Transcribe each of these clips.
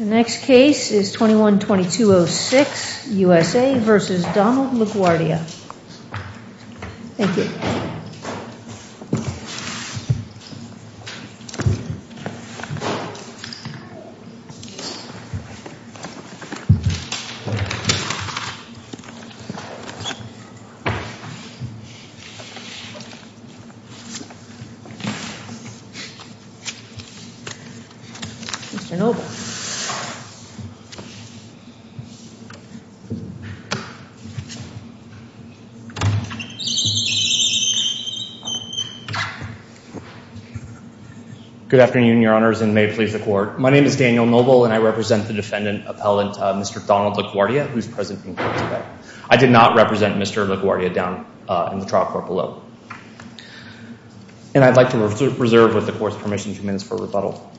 21-2206 U.S.A. v. Donald LaGuardia Good afternoon, your honors and may it please the court. My name is Daniel Noble and I represent the defendant appellant Mr. Donald LaGuardia who is present in court today. I did not represent Mr. LaGuardia down in the trial court below. And I'd like to reserve with the court's permission two minutes for rebuttal.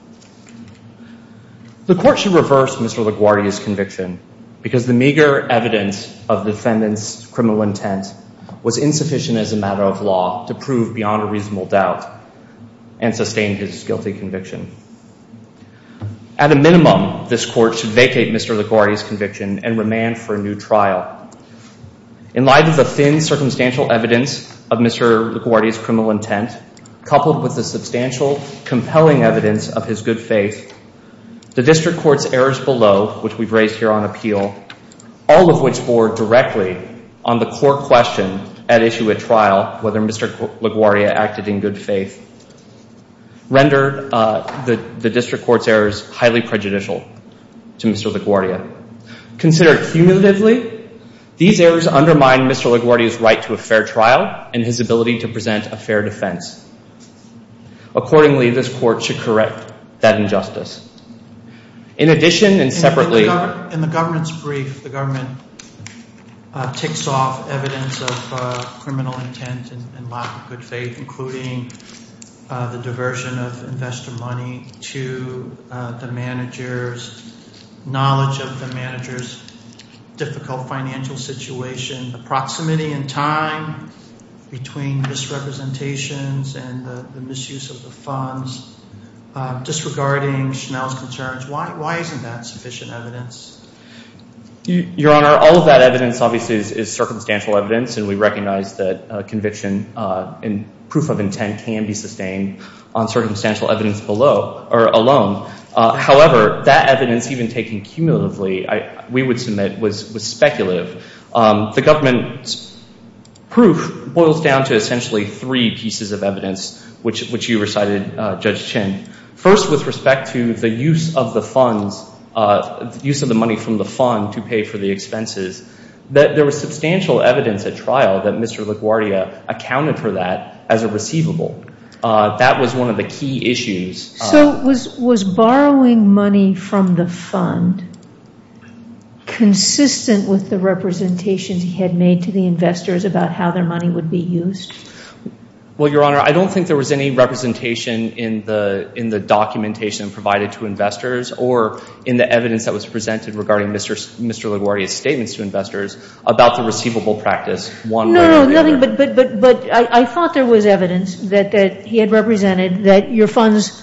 The court should reverse Mr. LaGuardia's conviction because the meager evidence of the defendant's criminal intent was insufficient as a matter of law to prove beyond a reasonable doubt and sustain his guilty conviction. At a minimum, this court should vacate Mr. LaGuardia's conviction and remand for a new trial. In light of the thin circumstantial evidence of Mr. LaGuardia's criminal intent, coupled with the substantial compelling evidence of his good faith, the district court's errors below, which we've raised here on appeal, all of which bore directly on the court question at issue at trial whether Mr. LaGuardia acted in good faith, rendered the district court's errors highly prejudicial to Mr. LaGuardia. Considered cumulatively, these errors undermine Mr. LaGuardia's right to a fair trial and his ability to present a fair defense. Accordingly, this court should correct that injustice. In addition and separately – and lack of good faith, including the diversion of investor money to the manager's knowledge of the manager's difficult financial situation, the proximity in time between misrepresentations and the misuse of the funds, disregarding Schnell's concerns. Why isn't that sufficient evidence? Your Honor, all of that evidence obviously is circumstantial evidence, and we recognize that conviction and proof of intent can be sustained on circumstantial evidence alone. However, that evidence, even taken cumulatively, we would submit was speculative. The government's proof boils down to essentially three pieces of evidence, which you recited, Judge Chin. First, with respect to the use of the money from the fund to pay for the expenses, there was substantial evidence at trial that Mr. LaGuardia accounted for that as a receivable. That was one of the key issues. So was borrowing money from the fund consistent with the representations he had made to the investors about how their money would be used? Well, Your Honor, I don't think there was any representation in the documentation provided to investors or in the evidence that was presented regarding Mr. LaGuardia's statements to investors about the receivable practice. No, no, nothing, but I thought there was evidence that he had represented that your funds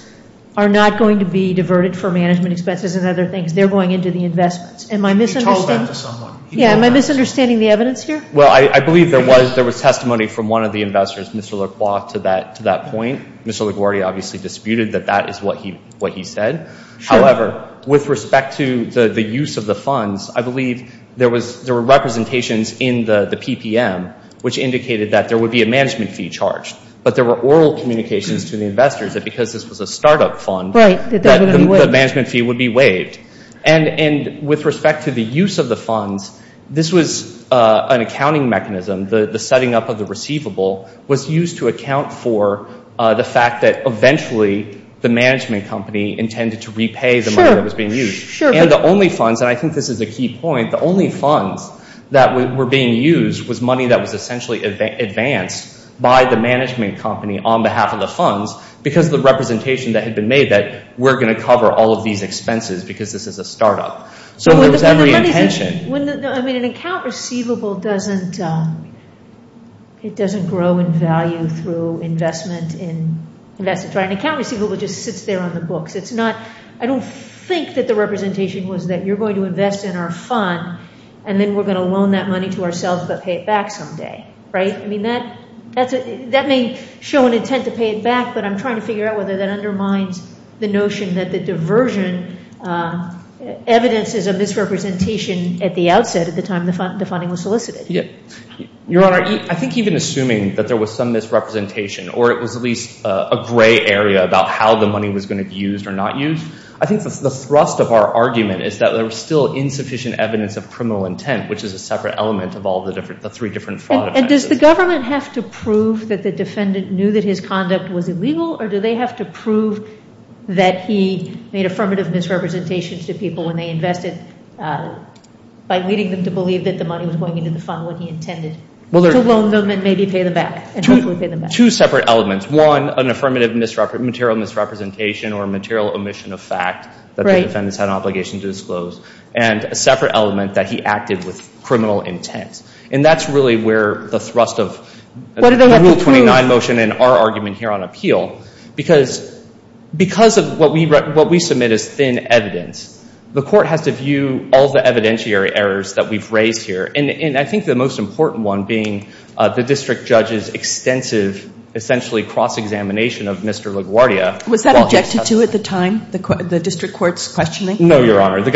are not going to be diverted for management expenses and other things. They're going into the investments. He told that to someone. Yeah, am I misunderstanding the evidence here? Well, I believe there was testimony from one of the investors, Mr. LaGuardia, to that point. Mr. LaGuardia obviously disputed that that is what he said. However, with respect to the use of the funds, I believe there were representations in the PPM which indicated that there would be a management fee charged, but there were oral communications to the investors that because this was a startup fund that the management fee would be waived. And with respect to the use of the funds, this was an accounting mechanism. The setting up of the receivable was used to account for the fact that eventually the management company intended to repay the money that was being used. And the only funds, and I think this is a key point, the only funds that were being used was money that was essentially advanced by the management company on behalf of the funds because of the representation that had been made that we're going to cover all of these expenses because this is a startup. So there was every intention. I mean, an account receivable doesn't grow in value through investment. An account receivable just sits there on the books. I don't think that the representation was that you're going to invest in our fund and then we're going to loan that money to ourselves but pay it back someday. Right? I mean, that may show an intent to pay it back, but I'm trying to figure out whether that undermines the notion that the diversion evidence is a misrepresentation at the outset at the time the funding was solicited. Your Honor, I think even assuming that there was some misrepresentation or it was at least a gray area about how the money was going to be used or not used, I think the thrust of our argument is that there was still insufficient evidence of criminal intent, which is a separate element of all the three different fraud offenses. And does the government have to prove that the defendant knew that his conduct was illegal or do they have to prove that he made affirmative misrepresentations to people when they invested by leading them to believe that the money was going into the fund when he intended to loan them and maybe pay them back and hopefully pay them back? Two separate elements. One, an affirmative material misrepresentation or a material omission of fact that the defendants had an obligation to disclose. And a separate element that he acted with criminal intent. And that's really where the thrust of the Rule 29 motion and our argument here on appeal. Because of what we submit as thin evidence, the court has to view all the evidentiary errors that we've raised here. And I think the most important one being the district judge's extensive, essentially cross-examination of Mr. LaGuardia. Was that objected to at the time, the district court's questioning? No, Your Honor. The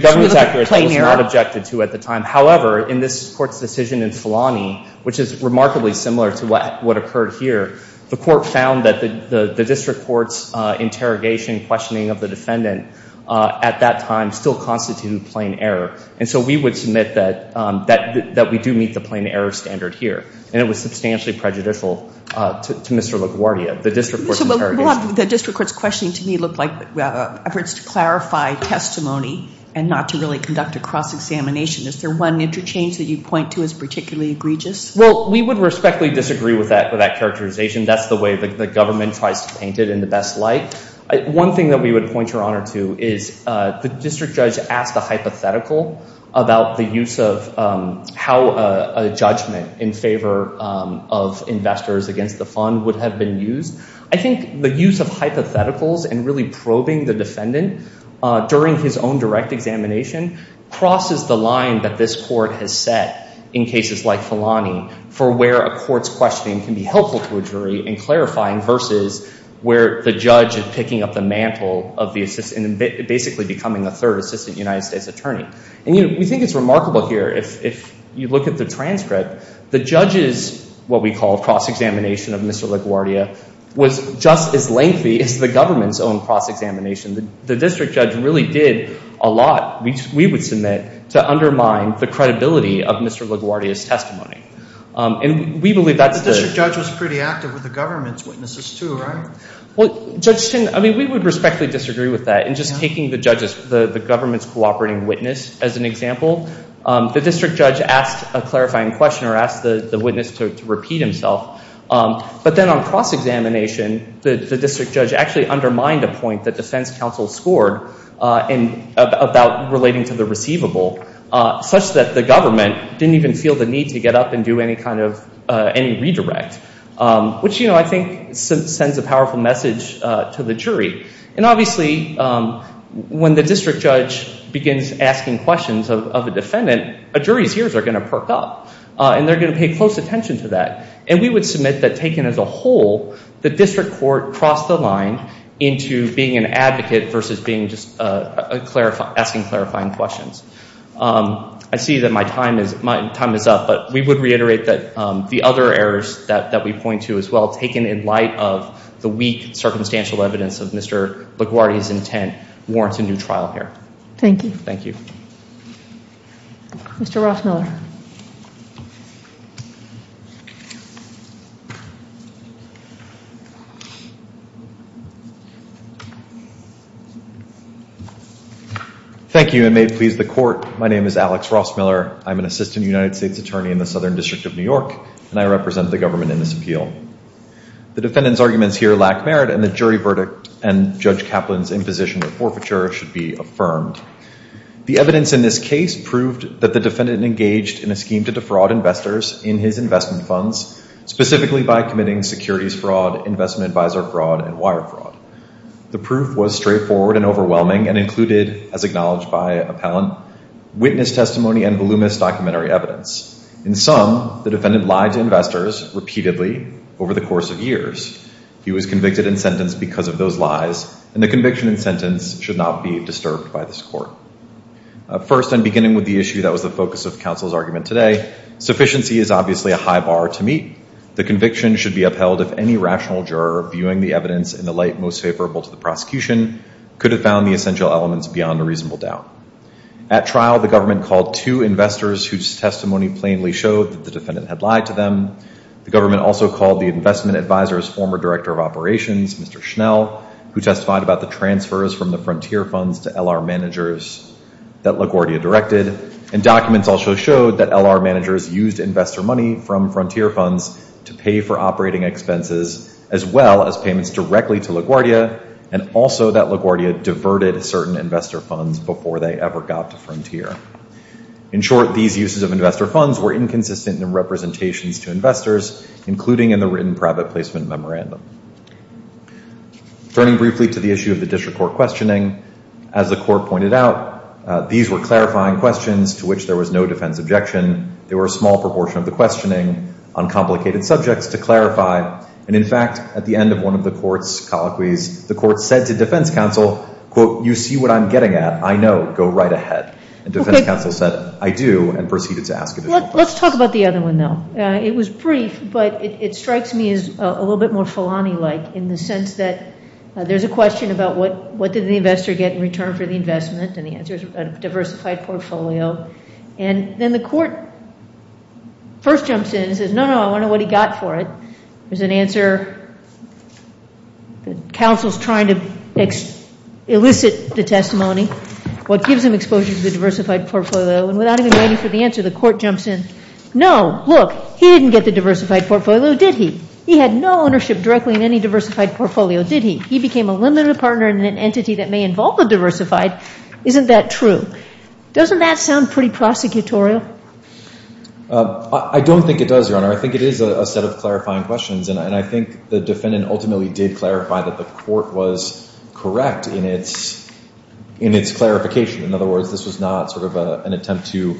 government's accuracy was not objected to at the time. However, in this court's decision in Filani, which is remarkably similar to what occurred here, the court found that the district court's interrogation, questioning of the defendant at that time still constituted plain error. And so we would submit that we do meet the plain error standard here. And it was substantially prejudicial to Mr. LaGuardia, the district court's interrogation. The district court's questioning to me looked like efforts to clarify testimony and not to really conduct a cross-examination. Is there one interchange that you'd point to as particularly egregious? Well, we would respectfully disagree with that characterization. That's the way the government tries to paint it in the best light. One thing that we would point Your Honor to is the district judge asked a hypothetical about the use of how a judgment in favor of investors against the fund would have been used. I think the use of hypotheticals and really probing the defendant during his own direct examination crosses the line that this court has set in cases like Filani for where a court's questioning can be helpful to a jury in clarifying versus where the judge is picking up the mantle of the assistant and basically becoming a third assistant United States attorney. And we think it's remarkable here, if you look at the transcript, the judge's what we call cross-examination of Mr. LaGuardia was just as lengthy as the government's own cross-examination. The district judge really did a lot, which we would submit, to undermine the credibility of Mr. LaGuardia's testimony. And we believe that's the… The district judge was pretty active with the government's witnesses too, right? Well, Judge Tinn, I mean, we would respectfully disagree with that. And just taking the government's cooperating witness as an example, the district judge asked a clarifying question or asked the witness to repeat himself. But then on cross-examination, the district judge actually undermined a point that defense counsel scored about relating to the receivable, such that the government didn't even feel the need to get up and do any kind of redirect, which I think sends a powerful message to the jury. And obviously, when the district judge begins asking questions of a defendant, a jury's ears are going to perk up. And they're going to pay close attention to that. And we would submit that taken as a whole, the district court crossed the line into being an advocate versus being just asking clarifying questions. I see that my time is up, but we would reiterate that the other errors that we point to as well, taken in light of the weak circumstantial evidence of Mr. LaGuardia's intent, warrants a new trial here. Thank you. Thank you. Mr. Rossmiller. Thank you, and may it please the court, my name is Alex Rossmiller. I'm an assistant United States attorney in the Southern District of New York, and I represent the government in this appeal. The defendant's arguments here lack merit, and the jury verdict and Judge Kaplan's imposition of forfeiture should be affirmed. The evidence in this case proved that the defendant engaged in a scheme to defraud investors in his investment funds, specifically by committing securities fraud, investment advisor fraud, and wire fraud. The proof was straightforward and overwhelming and included, as acknowledged by appellant, witness testimony and voluminous documentary evidence. In sum, the defendant lied to investors repeatedly over the course of years. He was convicted and sentenced because of those lies, and the conviction and sentence should not be disturbed by this court. First, and beginning with the issue that was the focus of counsel's argument today, sufficiency is obviously a high bar to meet. The conviction should be upheld if any rational juror viewing the evidence in the light most favorable to the prosecution could have found the essential elements beyond a reasonable doubt. At trial, the government called two investors whose testimony plainly showed that the defendant had lied to them. The government also called the investment advisor's former director of operations, Mr. Schnell, who testified about the transfers from the frontier funds to LR managers that LaGuardia directed, and documents also showed that LR managers used investor money from frontier funds to pay for operating expenses as well as payments directly to LaGuardia, and also that LaGuardia diverted certain investor funds before they ever got to frontier. In short, these uses of investor funds were inconsistent in representations to investors, including in the written private placement memorandum. Turning briefly to the issue of the district court questioning, as the court pointed out, these were clarifying questions to which there was no defense objection. There were a small proportion of the questioning on complicated subjects to clarify, and, in fact, at the end of one of the court's colloquies, the court said to defense counsel, quote, you see what I'm getting at. I know. Go right ahead. And defense counsel said, I do, and proceeded to ask additional questions. Let's talk about the other one, though. It was brief, but it strikes me as a little bit more Filani-like in the sense that there's a question about what did the investor get in return for the investment, and the answer is a diversified portfolio. And then the court first jumps in and says, no, no, I want to know what he got for it. There's an answer. Counsel's trying to elicit the testimony. What gives him exposure to the diversified portfolio? And without even waiting for the answer, the court jumps in. No, look, he didn't get the diversified portfolio, did he? He had no ownership directly in any diversified portfolio, did he? He became a limited partner in an entity that may involve the diversified. Isn't that true? Doesn't that sound pretty prosecutorial? I don't think it does, Your Honor. I think it is a set of clarifying questions, and I think the defendant ultimately did clarify that the court was correct in its clarification. In other words, this was not sort of an attempt to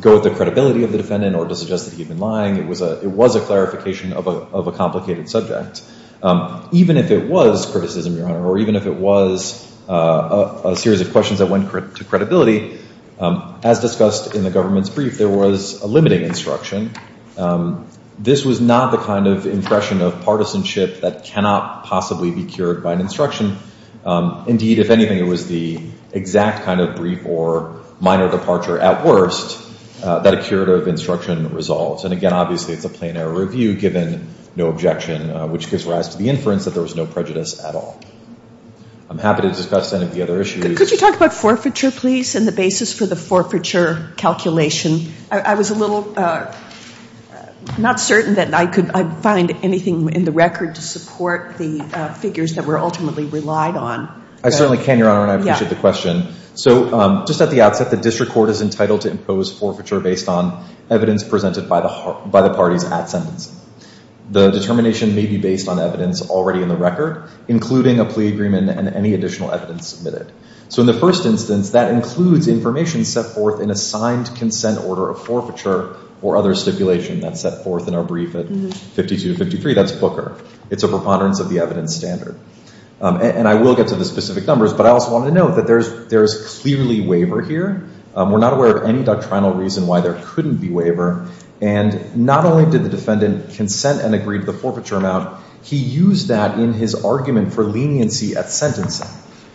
go with the credibility of the defendant or to suggest that he had been lying. It was a clarification of a complicated subject. Even if it was criticism, Your Honor, or even if it was a series of questions that went to credibility, as discussed in the government's brief, there was a limiting instruction. This was not the kind of impression of partisanship that cannot possibly be cured by an instruction. Indeed, if anything, it was the exact kind of brief or minor departure, at worst, that a curative instruction resolved. And again, obviously, it's a plain error review given no objection, which gives rise to the inference that there was no prejudice at all. I'm happy to discuss any of the other issues. Could you talk about forfeiture, please, and the basis for the forfeiture calculation? I was a little not certain that I could find anything in the record to support the figures that were ultimately relied on. I certainly can, Your Honor, and I appreciate the question. So just at the outset, the district court is entitled to impose forfeiture based on evidence presented by the parties at sentencing. The determination may be based on evidence already in the record, including a plea agreement and any additional evidence submitted. So in the first instance, that includes information set forth in a signed consent order of forfeiture or other stipulation that's set forth in our brief at 5253. That's Booker. It's a preponderance of the evidence standard. And I will get to the specific numbers, but I also wanted to note that there is clearly waiver here. We're not aware of any doctrinal reason why there couldn't be waiver. And not only did the defendant consent and agree to the forfeiture amount, he used that in his argument for leniency at sentencing.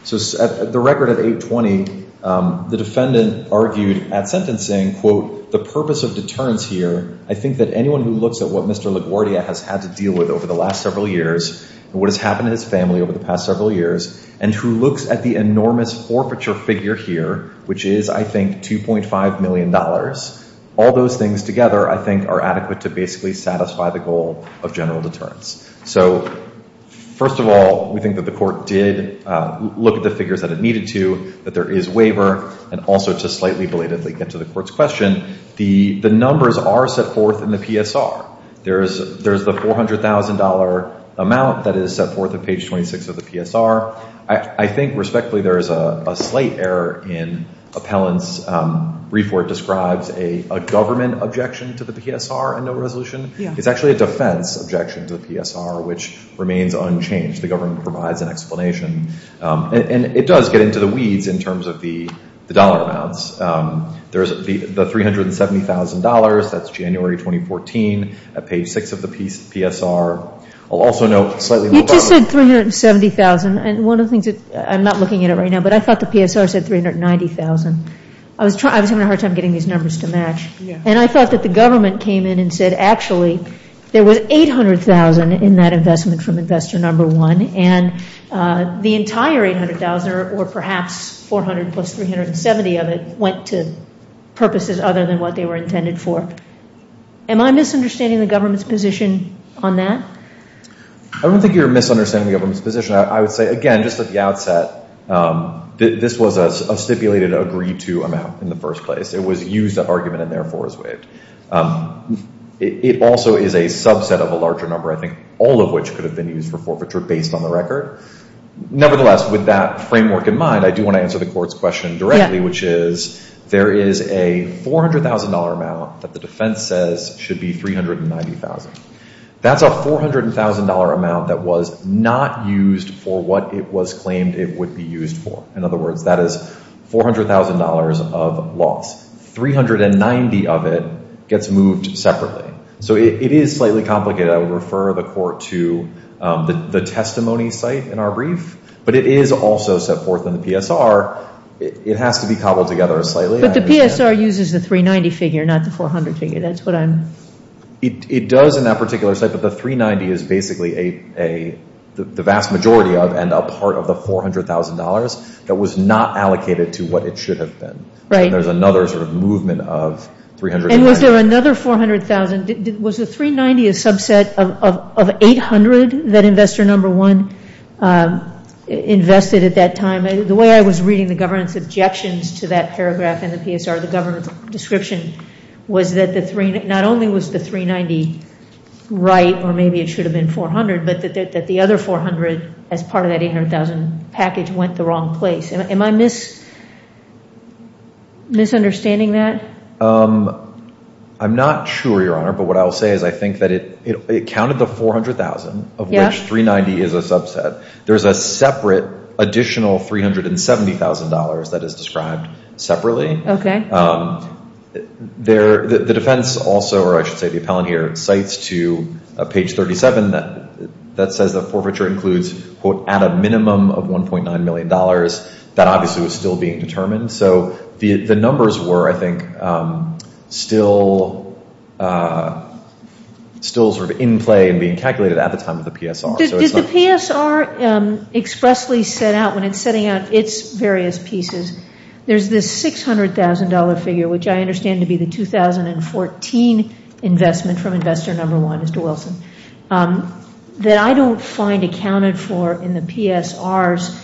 So the record at 820, the defendant argued at sentencing, quote, the purpose of deterrence here, I think that anyone who looks at what Mr. LaGuardia has had to deal with over the last several years and what has happened to his family over the past several years and who looks at the enormous forfeiture figure here, which is, I think, $2.5 million, all those things together I think are adequate to basically satisfy the goal of general deterrence. So first of all, we think that the court did look at the figures that it needed to, that there is waiver, and also to slightly belatedly get to the court's question, the numbers are set forth in the PSR. There is the $400,000 amount that is set forth at page 26 of the PSR. I think respectfully there is a slight error in appellant's brief where it describes a government objection to the PSR and no resolution. It's actually a defense objection to the PSR, which remains unchanged. The government provides an explanation. And it does get into the weeds in terms of the dollar amounts. There is the $370,000. That's January 2014 at page 6 of the PSR. I'll also note slightly more. You just said $370,000. And one of the things that I'm not looking at it right now, but I thought the PSR said $390,000. I was having a hard time getting these numbers to match. And I thought that the government came in and said, actually, there was $800,000 in that investment from investor number one. And the entire $800,000 or perhaps $400,000 plus $370,000 of it went to purposes other than what they were intended for. Am I misunderstanding the government's position on that? I don't think you're misunderstanding the government's position. I would say, again, just at the outset, this was a stipulated agreed-to amount in the first place. It also is a subset of a larger number, I think, all of which could have been used for forfeiture based on the record. Nevertheless, with that framework in mind, I do want to answer the court's question directly, which is there is a $400,000 amount that the defense says should be $390,000. That's a $400,000 amount that was not used for what it was claimed it would be used for. In other words, that is $400,000 of loss. $390,000 of it gets moved separately. So it is slightly complicated. I would refer the court to the testimony site in our brief. But it is also set forth in the PSR. It has to be cobbled together slightly. But the PSR uses the $390,000 figure, not the $400,000 figure. That's what I'm— It does in that particular site. But the $390,000 is basically the vast majority of and a part of the $400,000 that was not allocated to what it should have been. Right. And there's another sort of movement of $300,000. And was there another $400,000? Was the $390,000 a subset of $800,000 that Investor No. 1 invested at that time? The way I was reading the government's objections to that paragraph in the PSR, the government's description, was that not only was the $390,000 right, or maybe it should have been $400,000, but that the other $400,000 as part of that $800,000 package went the wrong place. Am I misunderstanding that? I'm not sure, Your Honor. But what I'll say is I think that it counted the $400,000, of which $390,000 is a subset. There's a separate additional $370,000 that is described separately. Okay. The defense also, or I should say the appellant here, cites to page 37 that says the forfeiture includes, quote, at a minimum of $1.9 million. That obviously was still being determined. So the numbers were, I think, still sort of in play and being calculated at the time of the PSR. Did the PSR expressly set out, when it's setting out its various pieces, there's this $600,000 figure, which I understand to be the 2014 investment from Investor No. 1, Mr. Wilson, that I don't find accounted for in the PSR's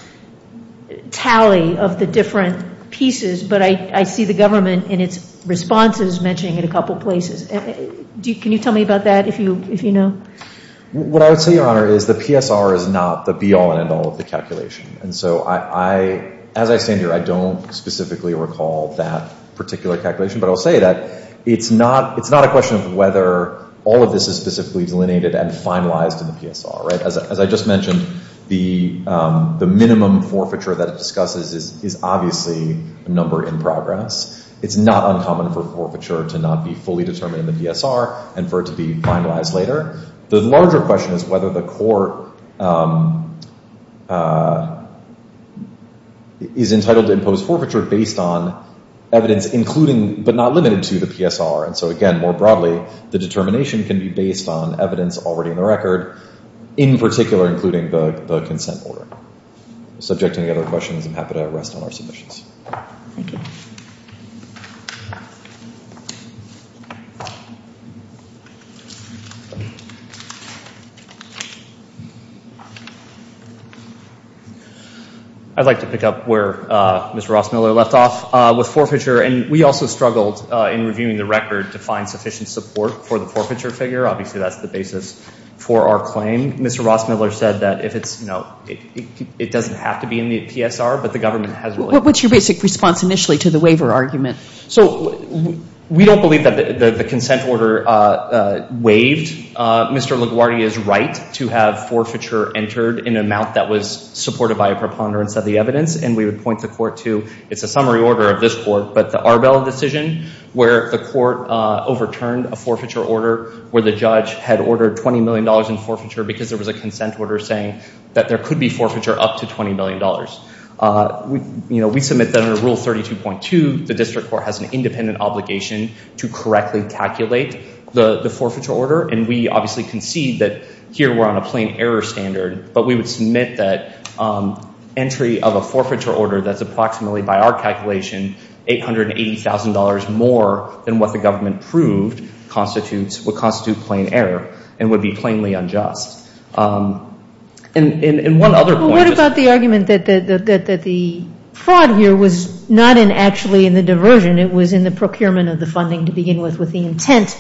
tally of the different pieces, but I see the government in its responses mentioning it a couple places. Can you tell me about that, if you know? What I would say, Your Honor, is the PSR is not the be-all and end-all of the calculation. And so as I stand here, I don't specifically recall that particular calculation. But I'll say that it's not a question of whether all of this is specifically delineated and finalized in the PSR. As I just mentioned, the minimum forfeiture that it discusses is obviously a number in progress. It's not uncommon for forfeiture to not be fully determined in the PSR and for it to be finalized later. The larger question is whether the court is entitled to impose forfeiture based on evidence including, but not limited to, the PSR. And so again, more broadly, the determination can be based on evidence already in the record, in particular including the consent order. Subject to any other questions, I'm happy to rest on our submissions. Thank you. I'd like to pick up where Mr. Ross-Miller left off with forfeiture. And we also struggled in reviewing the record to find sufficient support for the forfeiture figure. Obviously, that's the basis for our claim. Mr. Ross-Miller said that if it's, you know, it doesn't have to be in the PSR, but the government has really- What's your basic response initially to the waiver argument? So we don't believe that the consent order waived. Mr. LaGuardia is right to have forfeiture entered in an amount that was supported by a preponderance of the evidence. And we would point the court to, it's a summary order of this court, but the Arbel decision where the court overturned a forfeiture order where the judge had ordered $20 million in forfeiture because there was a consent order saying that there could be forfeiture up to $20 million. You know, we submit that under Rule 32.2, the district court has an independent obligation to correctly calculate the forfeiture order. And we obviously concede that here we're on a plain error standard. But we would submit that entry of a forfeiture order that's approximately, by our calculation, $880,000 more than what the government proved would constitute plain error and would be plainly unjust. And one other point- Well, what about the argument that the fraud here was not in actually in the diversion. It was in the procurement of the funding to begin with, with the intent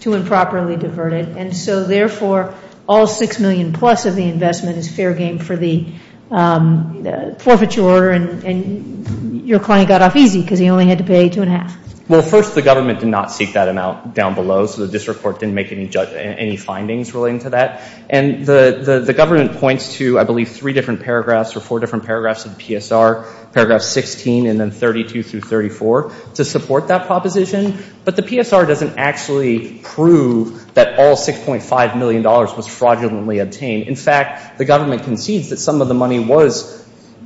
to improperly divert it. And so, therefore, all $6 million plus of the investment is fair game for the forfeiture order. And your client got off easy because he only had to pay $2.5 million. Well, first, the government did not seek that amount down below. So the district court didn't make any findings relating to that. And the government points to, I believe, three different paragraphs or four different paragraphs of the PSR, paragraph 16 and then 32 through 34 to support that proposition. But the PSR doesn't actually prove that all $6.5 million was fraudulently obtained. In fact, the government concedes that some of the money was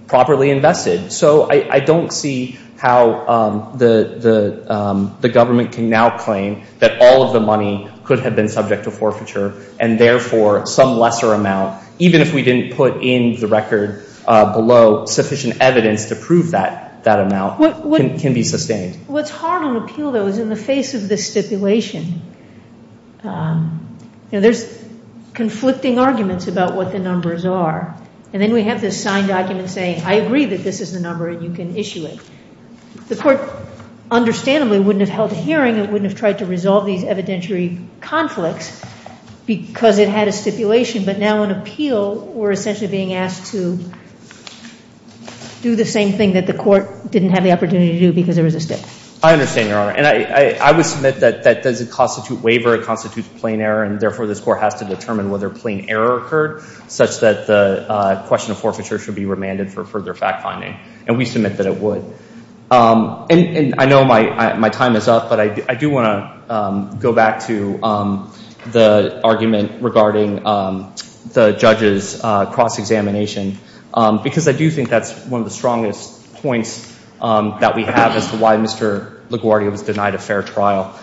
properly invested. So I don't see how the government can now claim that all of the money could have been subject to forfeiture and, therefore, some lesser amount, even if we didn't put in the record below, sufficient evidence to prove that amount can be sustained. What's hard on appeal, though, is in the face of this stipulation. There's conflicting arguments about what the numbers are. And then we have this signed document saying, I agree that this is the number, and you can issue it. The court, understandably, wouldn't have held a hearing. It wouldn't have tried to resolve these evidentiary conflicts because it had a stipulation. But now in appeal, we're essentially being asked to do the same thing that the court didn't have the opportunity to do because there was a stip. I understand, Your Honor. And I would submit that that doesn't constitute waiver. It constitutes plain error. And, therefore, this court has to determine whether plain error occurred such that the question of forfeiture should be remanded for further fact-finding. And we submit that it would. And I know my time is up, but I do want to go back to the argument regarding the judge's cross-examination because I do think that's one of the strongest points that we have as to why Mr. LaGuardia was denied a fair trial.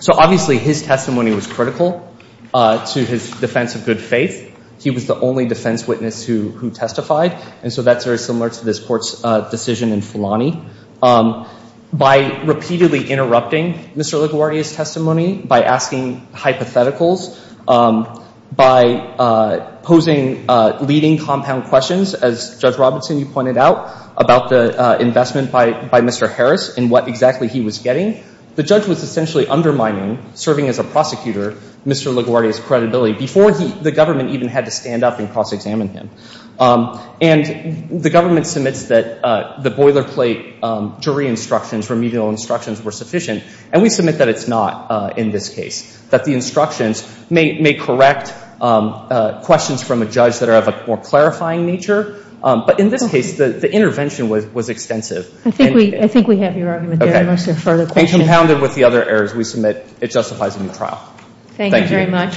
So, obviously, his testimony was critical to his defense of good faith. He was the only defense witness who testified, and so that's very similar to this court's decision in Filani. By repeatedly interrupting Mr. LaGuardia's testimony, by asking hypotheticals, by posing leading compound questions, as Judge Robinson, you pointed out, about the investment by Mr. Harris and what exactly he was getting, the judge was essentially undermining, serving as a prosecutor, Mr. LaGuardia's credibility before the government even had to stand up and cross-examine him. And the government submits that the boilerplate jury instructions, remedial instructions, were sufficient, and we submit that it's not in this case, that the instructions may correct questions from a judge that are of a more clarifying nature, but in this case, the intervention was extensive. I think we have your argument there unless there are further questions. And compounded with the other errors we submit, it justifies a new trial. Thank you.